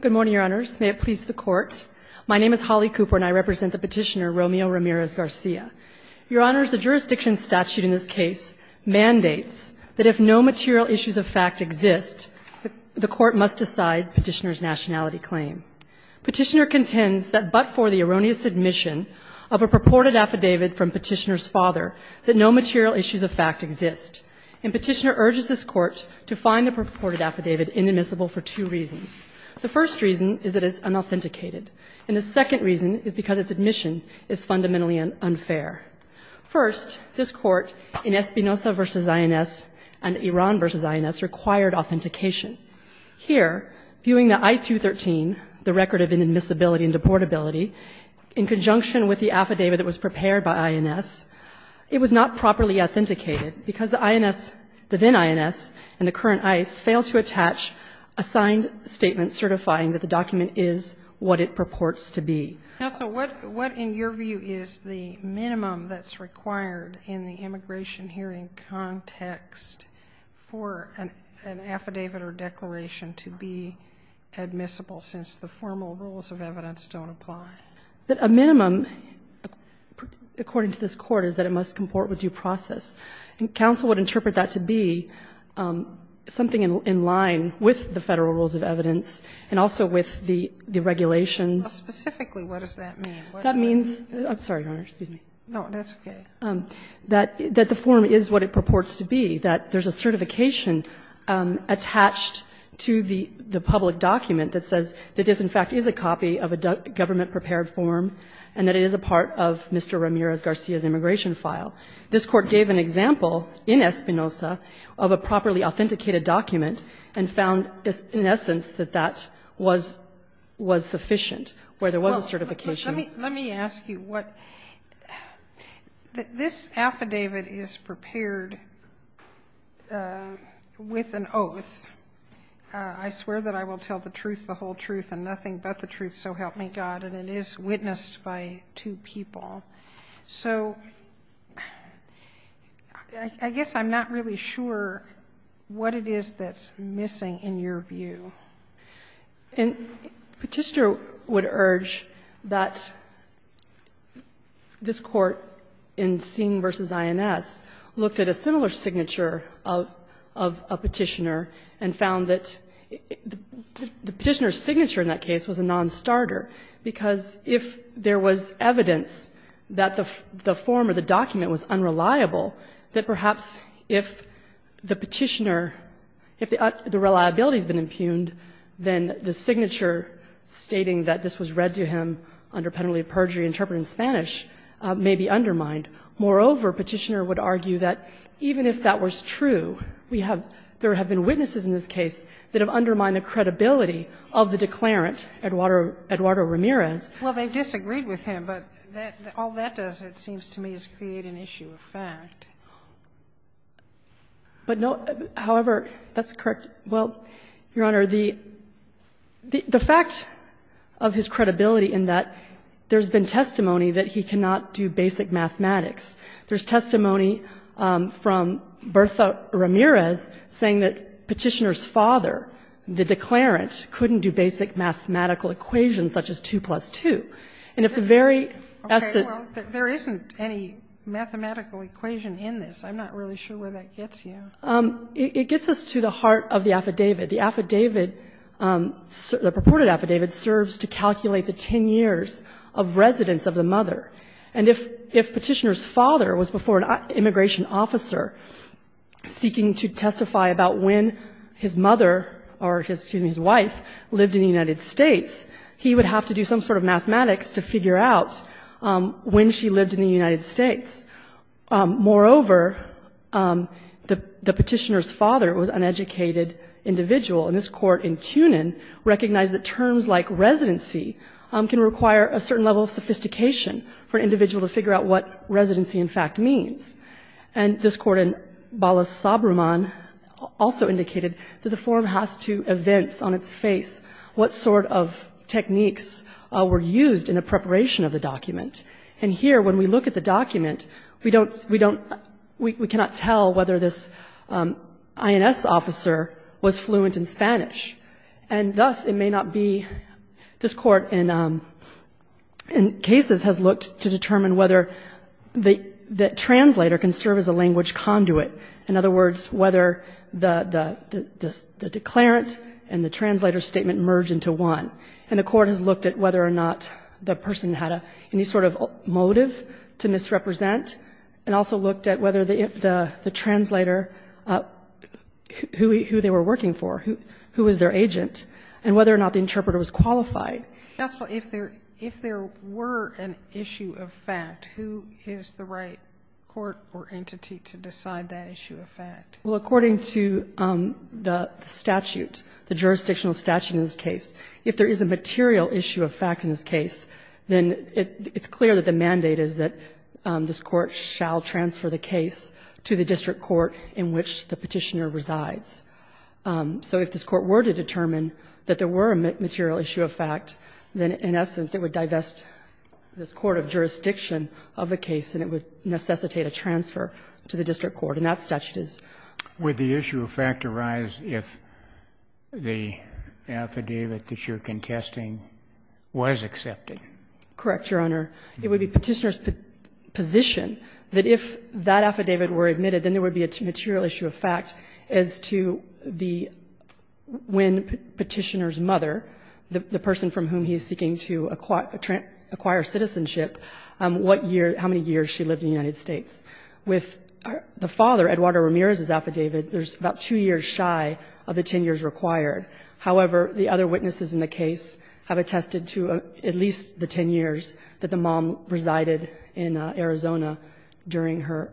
Good morning, Your Honors. May it please the Court. My name is Holly Cooper and I represent the petitioner, Romeo Ramirez Garcia. Your Honors, the jurisdiction statute in this case mandates that if no material issues of fact exist, the Court must decide petitioner's nationality claim. Petitioner contends that but for the erroneous admission of a purported affidavit from petitioner's father, that no material issues of fact exist. And petitioner urges this Court to find the purported affidavit inadmissible for two reasons. The first reason is that it's unauthenticated. And the second reason is because its admission is fundamentally unfair. First, this Court in Espinoza v. INS and Iran v. INS required authentication. Here, viewing the I-213, the record of inadmissibility and deportability, in conjunction with the affidavit that was prepared by INS, it was not properly authenticated because the INS, the then INS, and the current INS failed to attach a signed statement certifying that the document is what it purports to be. Sotomayor, what in your view is the minimum that's required in the immigration hearing context for an affidavit or declaration to be admissible since the formal rules of evidence don't apply? A minimum, according to this Court, is that it must comport with due process. And counsel would interpret that to be something in line with the Federal rules of evidence and also with the regulations. Specifically, what does that mean? That means, I'm sorry, Your Honor, excuse me. No, that's okay. That the form is what it purports to be. That there's a certification attached to the public document that says that this, in fact, is a copy of a government-prepared form and that it is a part of Mr. Ramirez Garcia's immigration file. This Court gave an example in Espinoza of a properly authenticated document and found, in essence, that that was sufficient, where there was a certification. Let me ask you what this affidavit is prepared with an oath. I swear that I will tell the truth, the whole truth, and nothing but the truth, so help me God. And it is witnessed by two people. So I guess I'm not really sure what it is that's missing in your view. And Petitioner would urge that this Court, in Singh v. INS, looked at a similar signature of a Petitioner and found that the Petitioner's signature in that case was a nonstarter, because if there was evidence that the form or the document was unreliable, that perhaps if the Petitioner, if the reliability has been impugned, then the signature stating that this was read to him under penalty of perjury interpreted in Spanish may be undermined. Moreover, Petitioner would argue that even if that was true, we have, there have been witnesses in this case that have undermined the credibility of the declarant, Sotomayor Well, they disagreed with him, but all that does, it seems to me, is create an issue of fact. But no, however, that's correct. Well, Your Honor, the fact of his credibility in that there's been testimony that he cannot do basic mathematics, there's testimony from Bertha Ramirez saying that Petitioner's father, the declarant, couldn't do basic mathematical equations such as 2 plus 2. And if the very essence of the question is that there isn't any mathematical equation in this, I'm not really sure where that gets you. It gets us to the heart of the affidavit. The affidavit, the purported affidavit, serves to calculate the 10 years of residence of the mother. And if Petitioner's father was before an immigration officer seeking to testify about when his mother or his, excuse me, his wife lived in the United States, he would have to do some sort of mathematics to figure out when she lived in the United States. Moreover, the Petitioner's father was an educated individual. And this Court in CUNIN recognized that terms like residency can require a certain level of sophistication for an individual to figure out what residency in fact means. And this Court in Balasabraman also indicated that the form has to evince on its face what sort of techniques were used in the preparation of the document. And here, when we look at the document, we don't, we don't, we cannot tell whether this INS officer was fluent in Spanish. And thus, it may not be, this Court in cases has looked to determine whether the translator can serve as a language conduit. In other words, whether the declarant and the translator statement merge into one. And the Court has looked at whether or not the person had any sort of motive to misrepresent, and also looked at whether the translator, who they were working for, who was their agent, and whether or not the interpreter was qualified. Sotomayor, if there, if there were an issue of fact, who is the right court or entity to decide that issue of fact? Well, according to the statute, the jurisdictional statute in this case, if there is a material issue of fact in this case, then it's clear that the mandate is that this Court shall transfer the case to the district court in which the Petitioner resides. So if this Court were to determine that there were a material issue of fact, then in essence, it would divest this court of jurisdiction of the case, and it would necessitate a transfer to the district court. And that statute is. Would the issue of fact arise if the affidavit that you're contesting was accepted? Correct, Your Honor. It would be Petitioner's position that if that affidavit were admitted, then there would be a material issue of fact as to the, when Petitioner's mother, the person from whom he is seeking to acquire citizenship, what year, how many years she lived in the United States. With the father, Eduardo Ramirez's affidavit, there's about two years shy of the 10 years required. However, the other witnesses in the case have attested to at least the 10 years that the mom resided in Arizona during her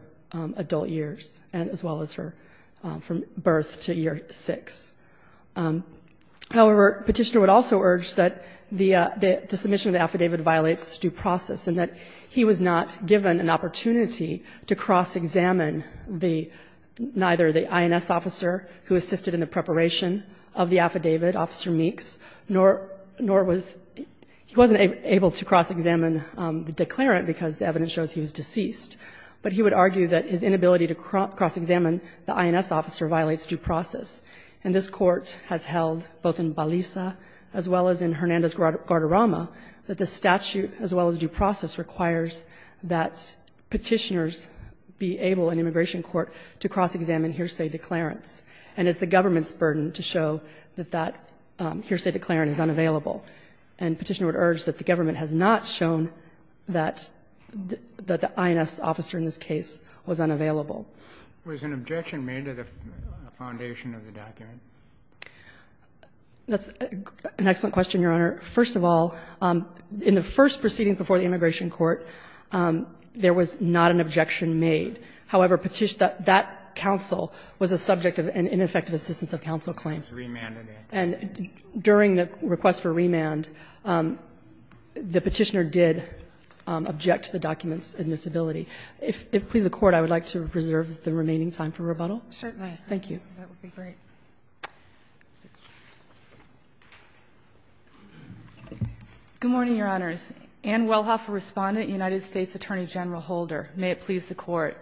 adult years, as well as her from birth to year 6. However, Petitioner would also urge that the submission of the affidavit violates due process and that he was not given an opportunity to cross-examine the, neither the INS officer who assisted in the preparation of the affidavit, Officer Meeks, nor was, he wasn't able to cross-examine the declarant because the evidence shows he was deceased. But he would argue that his inability to cross-examine the INS officer violates due process. And this Court has held, both in Baliza as well as in Hernandez-Guardarama, that the statute, as well as due process, requires that Petitioner's be able in And it's the government's burden to show that that hearsay declarant is unavailable. And Petitioner would urge that the government has not shown that the INS officer in this case was unavailable. Was an objection made to the foundation of the document? That's an excellent question, Your Honor. First of all, in the first proceedings before the immigration court, there was not an objection made. However, Petitioner, that counsel was a subject of an ineffective assistance of counsel claim. And during the request for remand, the Petitioner did object to the document's admissibility. If it pleases the Court, I would like to reserve the remaining time for rebuttal. Certainly. Thank you. That would be great. Good morning, Your Honors. Anne Welhoff, a respondent, United States Attorney General Holder. May it please the Court.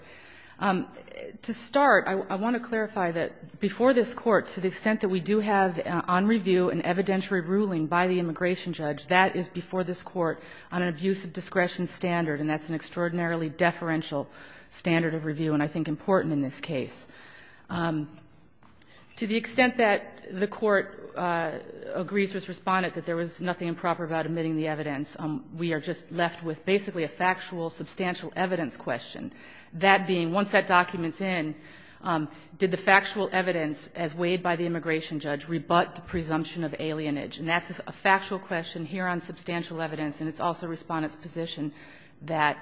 To start, I want to clarify that before this Court, to the extent that we do have on review an evidentiary ruling by the immigration judge, that is before this Court on an abuse of discretion standard, and that's an extraordinarily deferential standard of review and I think important in this case. To the extent that the Court agrees with this respondent that there was nothing improper about admitting the evidence, we are just left with basically a factual, substantial evidence question. That being, once that document's in, did the factual evidence, as weighed by the immigration judge, rebut the presumption of alienage? And that's a factual question here on substantial evidence, and it's also Respondent's position that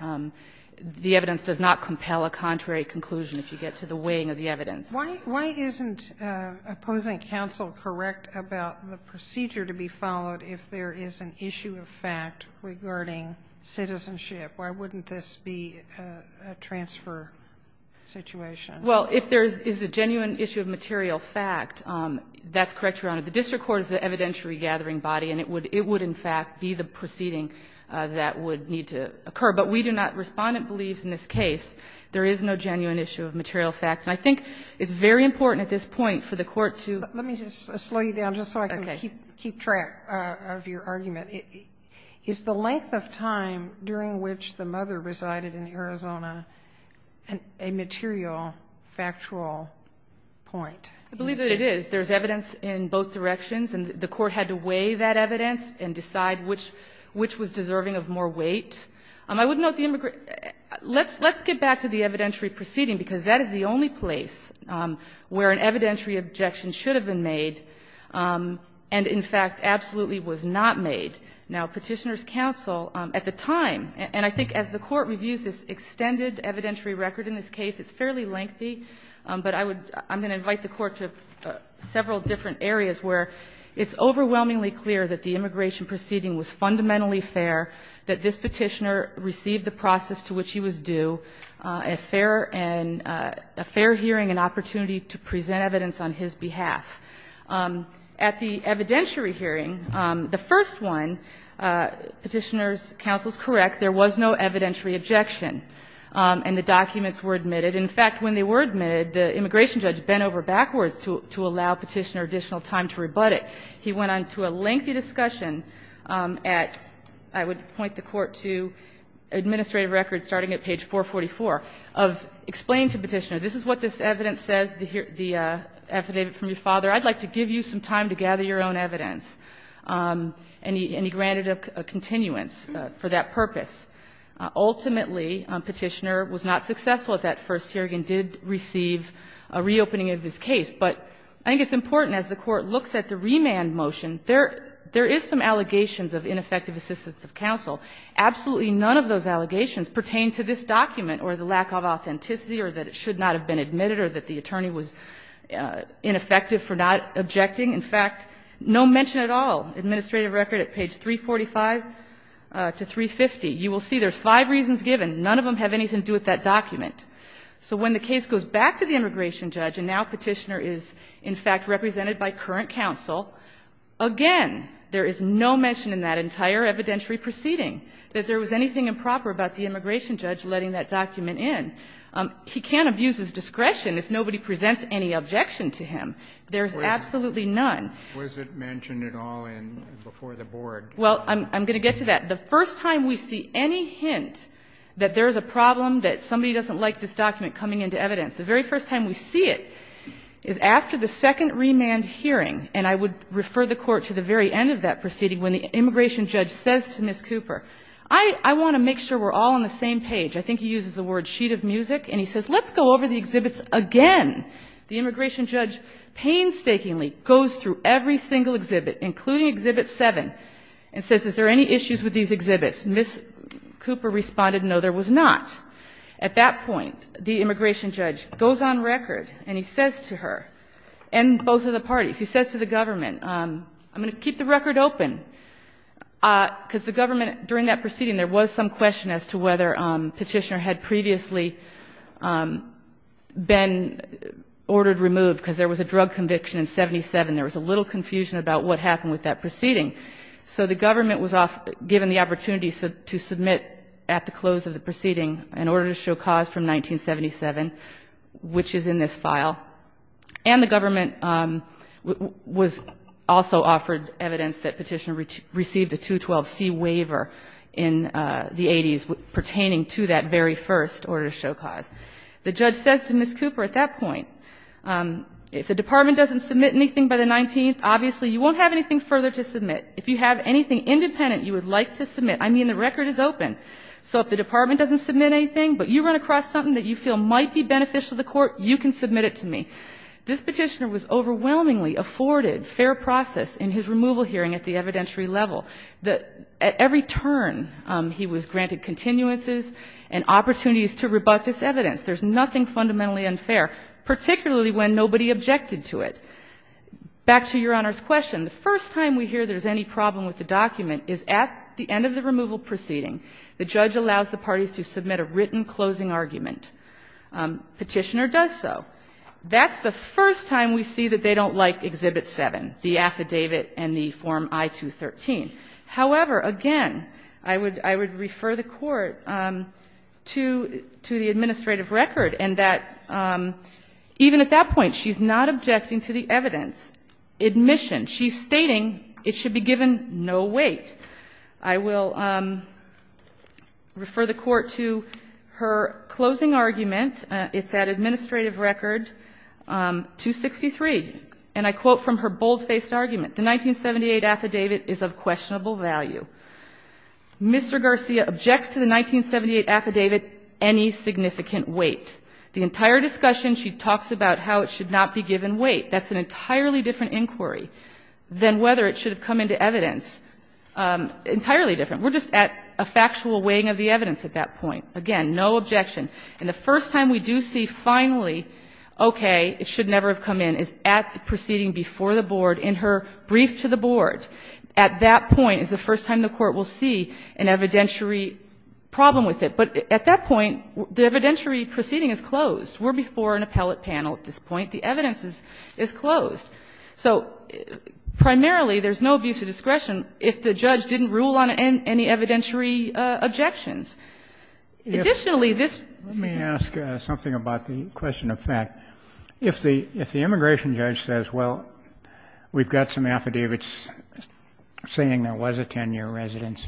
the evidence does not compel a contrary conclusion if you get to the weighing of the evidence. Why isn't opposing counsel correct about the procedure to be followed if there is an issue of fact regarding citizenship? Why wouldn't this be a transfer situation? Well, if there is a genuine issue of material fact, that's correct, Your Honor. The district court is the evidentiary gathering body, and it would in fact be the proceeding that would need to occur. But we do not, Respondent believes in this case, there is no genuine issue of material fact. And I think it's very important at this point for the Court to do that. Sotomayor, let me just slow you down just so I can keep track of your argument. Is the length of time during which the mother resided in Arizona a material, factual point? I believe that it is. There is evidence in both directions, and the Court had to weigh that evidence and decide which was deserving of more weight. Let's get back to the evidentiary proceeding, because that is the only place where an evidentiary objection should have been made, and in fact absolutely was not made. Now, Petitioner's counsel at the time, and I think as the Court reviews this extended evidentiary record in this case, it's fairly lengthy, but I would, I'm going to invite the Court to several different areas where it's overwhelmingly clear that the immigration proceeding was fundamentally fair, that this Petitioner received the process to which he was due, a fair hearing and opportunity to present evidence on his behalf. At the evidentiary hearing, the first one, Petitioner's counsel is correct, there was no evidentiary objection, and the documents were admitted. In fact, when they were admitted, the immigration judge bent over backwards to allow Petitioner additional time to rebut it. He went on to a lengthy discussion at, I would point the Court to, administrative record starting at page 444 of, explain to Petitioner, this is what this evidence says, the affidavit from your father, I'd like to give you some time to gather your own evidence, and he granted a continuance for that purpose. Ultimately, Petitioner was not successful at that first hearing and did receive a reopening of his case. But I think it's important, as the Court looks at the remand motion, there is some allegations of ineffective assistance of counsel. Absolutely none of those allegations pertain to this document or the lack of authenticity or that it should not have been admitted or that the attorney was ineffective for not objecting. In fact, no mention at all, administrative record at page 345 to 350. You will see there's five reasons given. None of them have anything to do with that document. So when the case goes back to the immigration judge, and now Petitioner is, in fact, represented by current counsel, again, there is no mention in that entire evidentiary proceeding that there was anything improper about the immigration judge letting that document in. He can't abuse his discretion if nobody presents any objection to him. There's absolutely none. Kennedy, was it mentioned at all before the board? Well, I'm going to get to that. The first time we see any hint that there's a problem, that somebody doesn't like this document coming into evidence, the very first time we see it is after the second remand hearing, and I would refer the Court to the very end of that proceeding, when the immigration judge says to Ms. Cooper, I want to make sure we're all on the same page. I think he uses the word sheet of music. And he says, let's go over the exhibits again. The immigration judge painstakingly goes through every single exhibit, including Exhibit 7, and says, is there any issues with these exhibits? Ms. Cooper responded, no, there was not. At that point, the immigration judge goes on record, and he says to her, and both of the parties, he says to the government, I'm going to keep the record open, because the government, during that proceeding, there was some question as to whether Petitioner had previously been ordered removed, because there was a drug conviction in 77, there was a little confusion about what happened with that proceeding. So the government was given the opportunity to submit at the close of the proceeding in order to show cause from 1977, which is in this file. And the government was also offered evidence that Petitioner received a 212C waiver in the 80s pertaining to that very first order to show cause. The judge says to Ms. Cooper at that point, if the Department doesn't submit anything by the 19th, obviously you won't have anything further to submit. If you have anything independent you would like to submit, I mean, the record is open. So if the Department doesn't submit anything, but you run across something that you feel might be beneficial to the Court, you can submit it to me. This Petitioner was overwhelmingly afforded fair process in his removal hearing at the evidentiary level. At every turn, he was granted continuances and opportunities to rebut this evidence. There's nothing fundamentally unfair, particularly when nobody objected to it. Back to Your Honor's question. The first time we hear there's any problem with the document is at the end of the removal proceeding. The judge allows the parties to submit a written closing argument. Petitioner does so. That's the first time we see that they don't like Exhibit 7, the affidavit and the Form I-213. However, again, I would refer the Court to the administrative record and that even at that point she's not objecting to the evidence. Admission. She's stating it should be given no weight. I will refer the Court to her closing argument. It's at administrative record 263. And I quote from her bold-faced argument. The 1978 affidavit is of questionable value. Mr. Garcia objects to the 1978 affidavit any significant weight. The entire discussion she talks about how it should not be given weight. That's an entirely different inquiry than whether it should have come into evidence entirely different. We're just at a factual weighing of the evidence at that point. Again, no objection. And the first time we do see finally, okay, it should never have come in, is at the proceeding before the board in her brief to the board. At that point is the first time the Court will see an evidentiary problem with it. But at that point, the evidentiary proceeding is closed. We're before an appellate panel at this point. The evidence is closed. So primarily, there's no abuse of discretion if the judge didn't rule on any evidentiary objections. Additionally, this ---- Let me ask something about the question of fact. If the immigration judge says, well, we've got some affidavits saying there was a 10-year residence.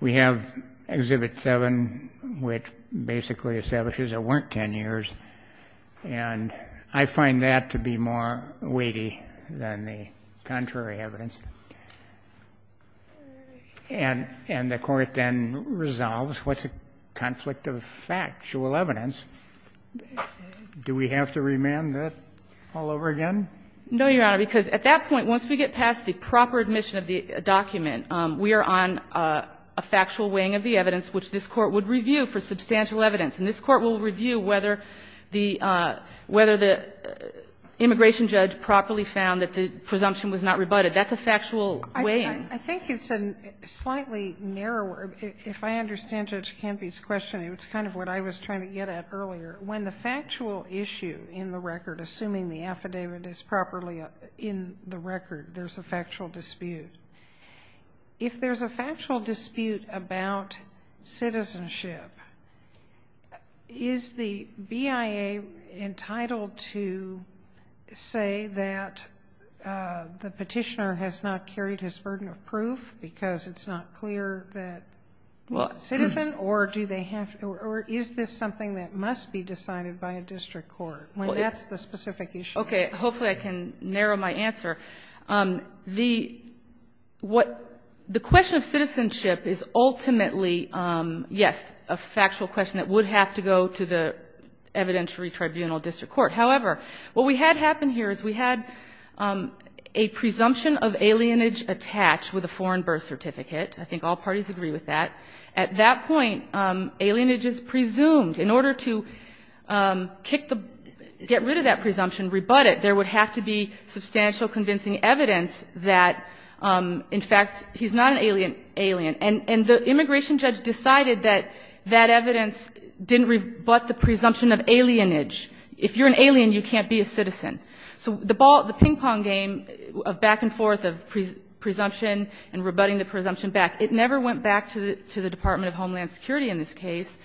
We have Exhibit 7, which basically establishes there weren't 10 years. And I find that to be more weighty than the contrary evidence. And the Court then resolves, what's a conflict of factual evidence? Do we have to remand that all over again? No, Your Honor, because at that point, once we get past the proper admission of the document, we are on a factual weighing of the evidence, which this Court would review for substantial evidence. And this Court will review whether the immigration judge properly found that the presumption was not rebutted. That's a factual weighing. I think it's a slightly narrower ---- if I understand Judge Campy's question, it's kind of what I was trying to get at earlier. When the factual issue in the record, assuming the affidavit is properly in the record, there's a factual dispute. If there's a factual dispute about citizenship, is the BIA entitled to say that the Petitioner has not carried his burden of proof because it's not clear that he's a citizen, or do they have to or is this something that must be decided by a district court when that's the specific issue? Hopefully I can narrow my answer. The question of citizenship is ultimately, yes, a factual question that would have to go to the evidentiary tribunal district court. However, what we had happen here is we had a presumption of alienage attached with a foreign birth certificate. I think all parties agree with that. At that point, alienage is presumed. In order to kick the ---- get rid of that presumption, rebut it, there would have to be substantial convincing evidence that, in fact, he's not an alien. And the immigration judge decided that that evidence didn't rebut the presumption of alienage. If you're an alien, you can't be a citizen. So the ball, the ping-pong game of back and forth of presumption and rebutting the presumption back, it never went back to the Department of Homeland Security in this case.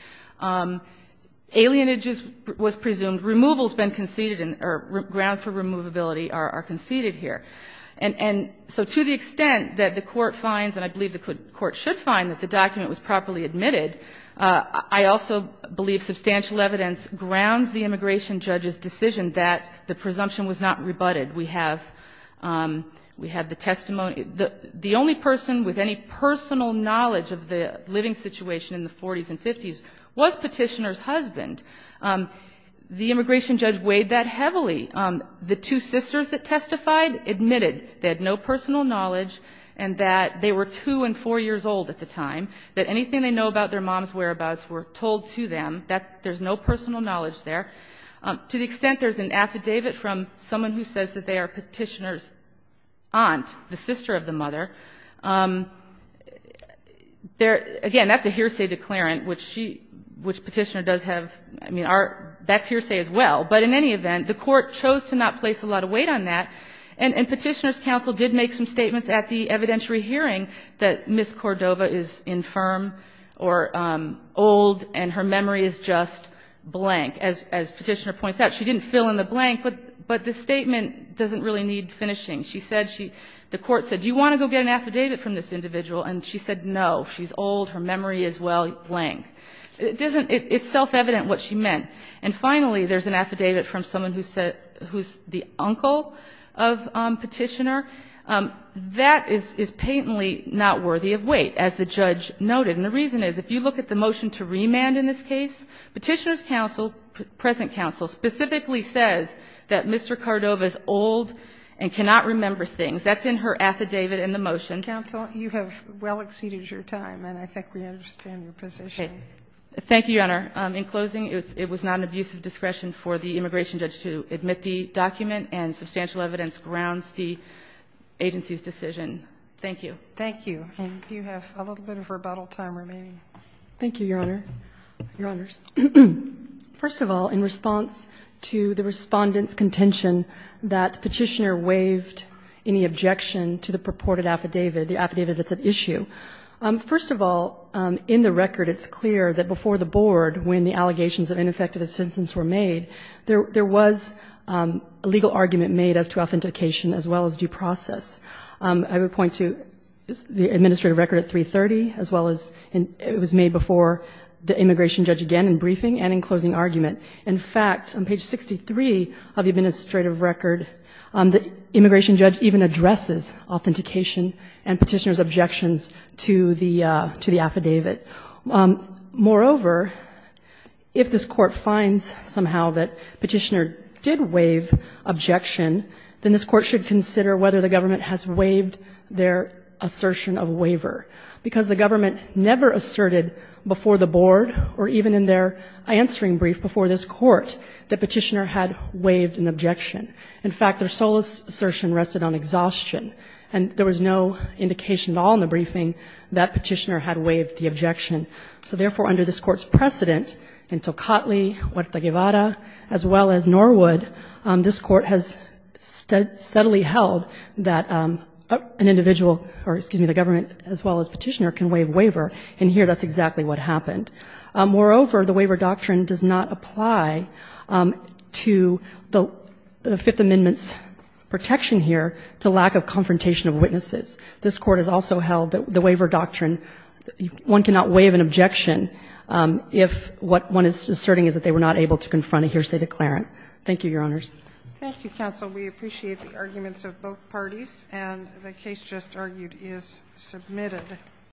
Alienage was presumed. Removal has been conceded, or grounds for removability are conceded here. And so to the extent that the Court finds, and I believe the Court should find, that the document was properly admitted, I also believe substantial evidence grounds the immigration judge's decision that the presumption was not rebutted. We have the testimony ---- the only person with any personal knowledge of the living The immigration judge weighed that heavily. The two sisters that testified admitted they had no personal knowledge and that they were 2 and 4 years old at the time, that anything they know about their mom's whereabouts were told to them. That there's no personal knowledge there. To the extent there's an affidavit from someone who says that they are Petitioner's aunt, the sister of the mother, there ---- again, that's a hearsay declarant, which she ---- which Petitioner does have. I mean, our ---- that's hearsay as well. But in any event, the Court chose to not place a lot of weight on that. And Petitioner's counsel did make some statements at the evidentiary hearing that Ms. Cordova is infirm or old and her memory is just blank. As Petitioner points out, she didn't fill in the blank, but the statement doesn't really need finishing. She said she ---- the Court said, do you want to go get an affidavit from this individual? And she said no. She's old. Her memory is well blank. It doesn't ---- it's self-evident what she meant. And finally, there's an affidavit from someone who said ---- who's the uncle of Petitioner. That is ---- is patently not worthy of weight, as the judge noted. And the reason is, if you look at the motion to remand in this case, Petitioner's counsel, present counsel, specifically says that Mr. Cordova is old and cannot remember things. That's in her affidavit in the motion. Sotomayor, you have well exceeded your time, and I think we understand your position. Thank you, Your Honor. In closing, it was not an abuse of discretion for the immigration judge to admit the document, and substantial evidence grounds the agency's decision. Thank you. Thank you. And you have a little bit of rebuttal time remaining. Thank you, Your Honor. Your Honors. First of all, in response to the Respondent's contention that Petitioner waived any objection to the purported affidavit, the affidavit that's at issue, first of all, in the record it's clear that before the Board, when the allegations of ineffective assistance were made, there was a legal argument made as to authentication as well as due process. I would point to the administrative record at 330, as well as it was made before the immigration judge again in briefing and in closing argument. In fact, on page 63 of the administrative record, the immigration judge even addresses authentication and Petitioner's objections to the affidavit. Moreover, if this Court finds somehow that Petitioner did waive objection, then this Court should consider whether the government has waived their assertion of waiver, because the government never asserted before the Board or even in their answering brief before this Court that Petitioner had waived an objection. In fact, their sole assertion rested on exhaustion, and there was no indication at all in the briefing that Petitioner had waived the objection. So therefore, under this Court's precedent in Tocatli, Huerta Guevara, as well as Norwood, this Court has steadily held that an individual or, excuse me, the government as well as Petitioner can waive waiver, and here that's exactly what happened. Moreover, the waiver doctrine does not apply to the Fifth Amendment's protection here to lack of confrontation of witnesses. This Court has also held that the waiver doctrine, one cannot waive an objection if what one is asserting is that they were not able to confront a hearsay declarant. Thank you, Your Honors. Thank you, counsel. We appreciate the arguments of both parties. And the case just argued is submitted.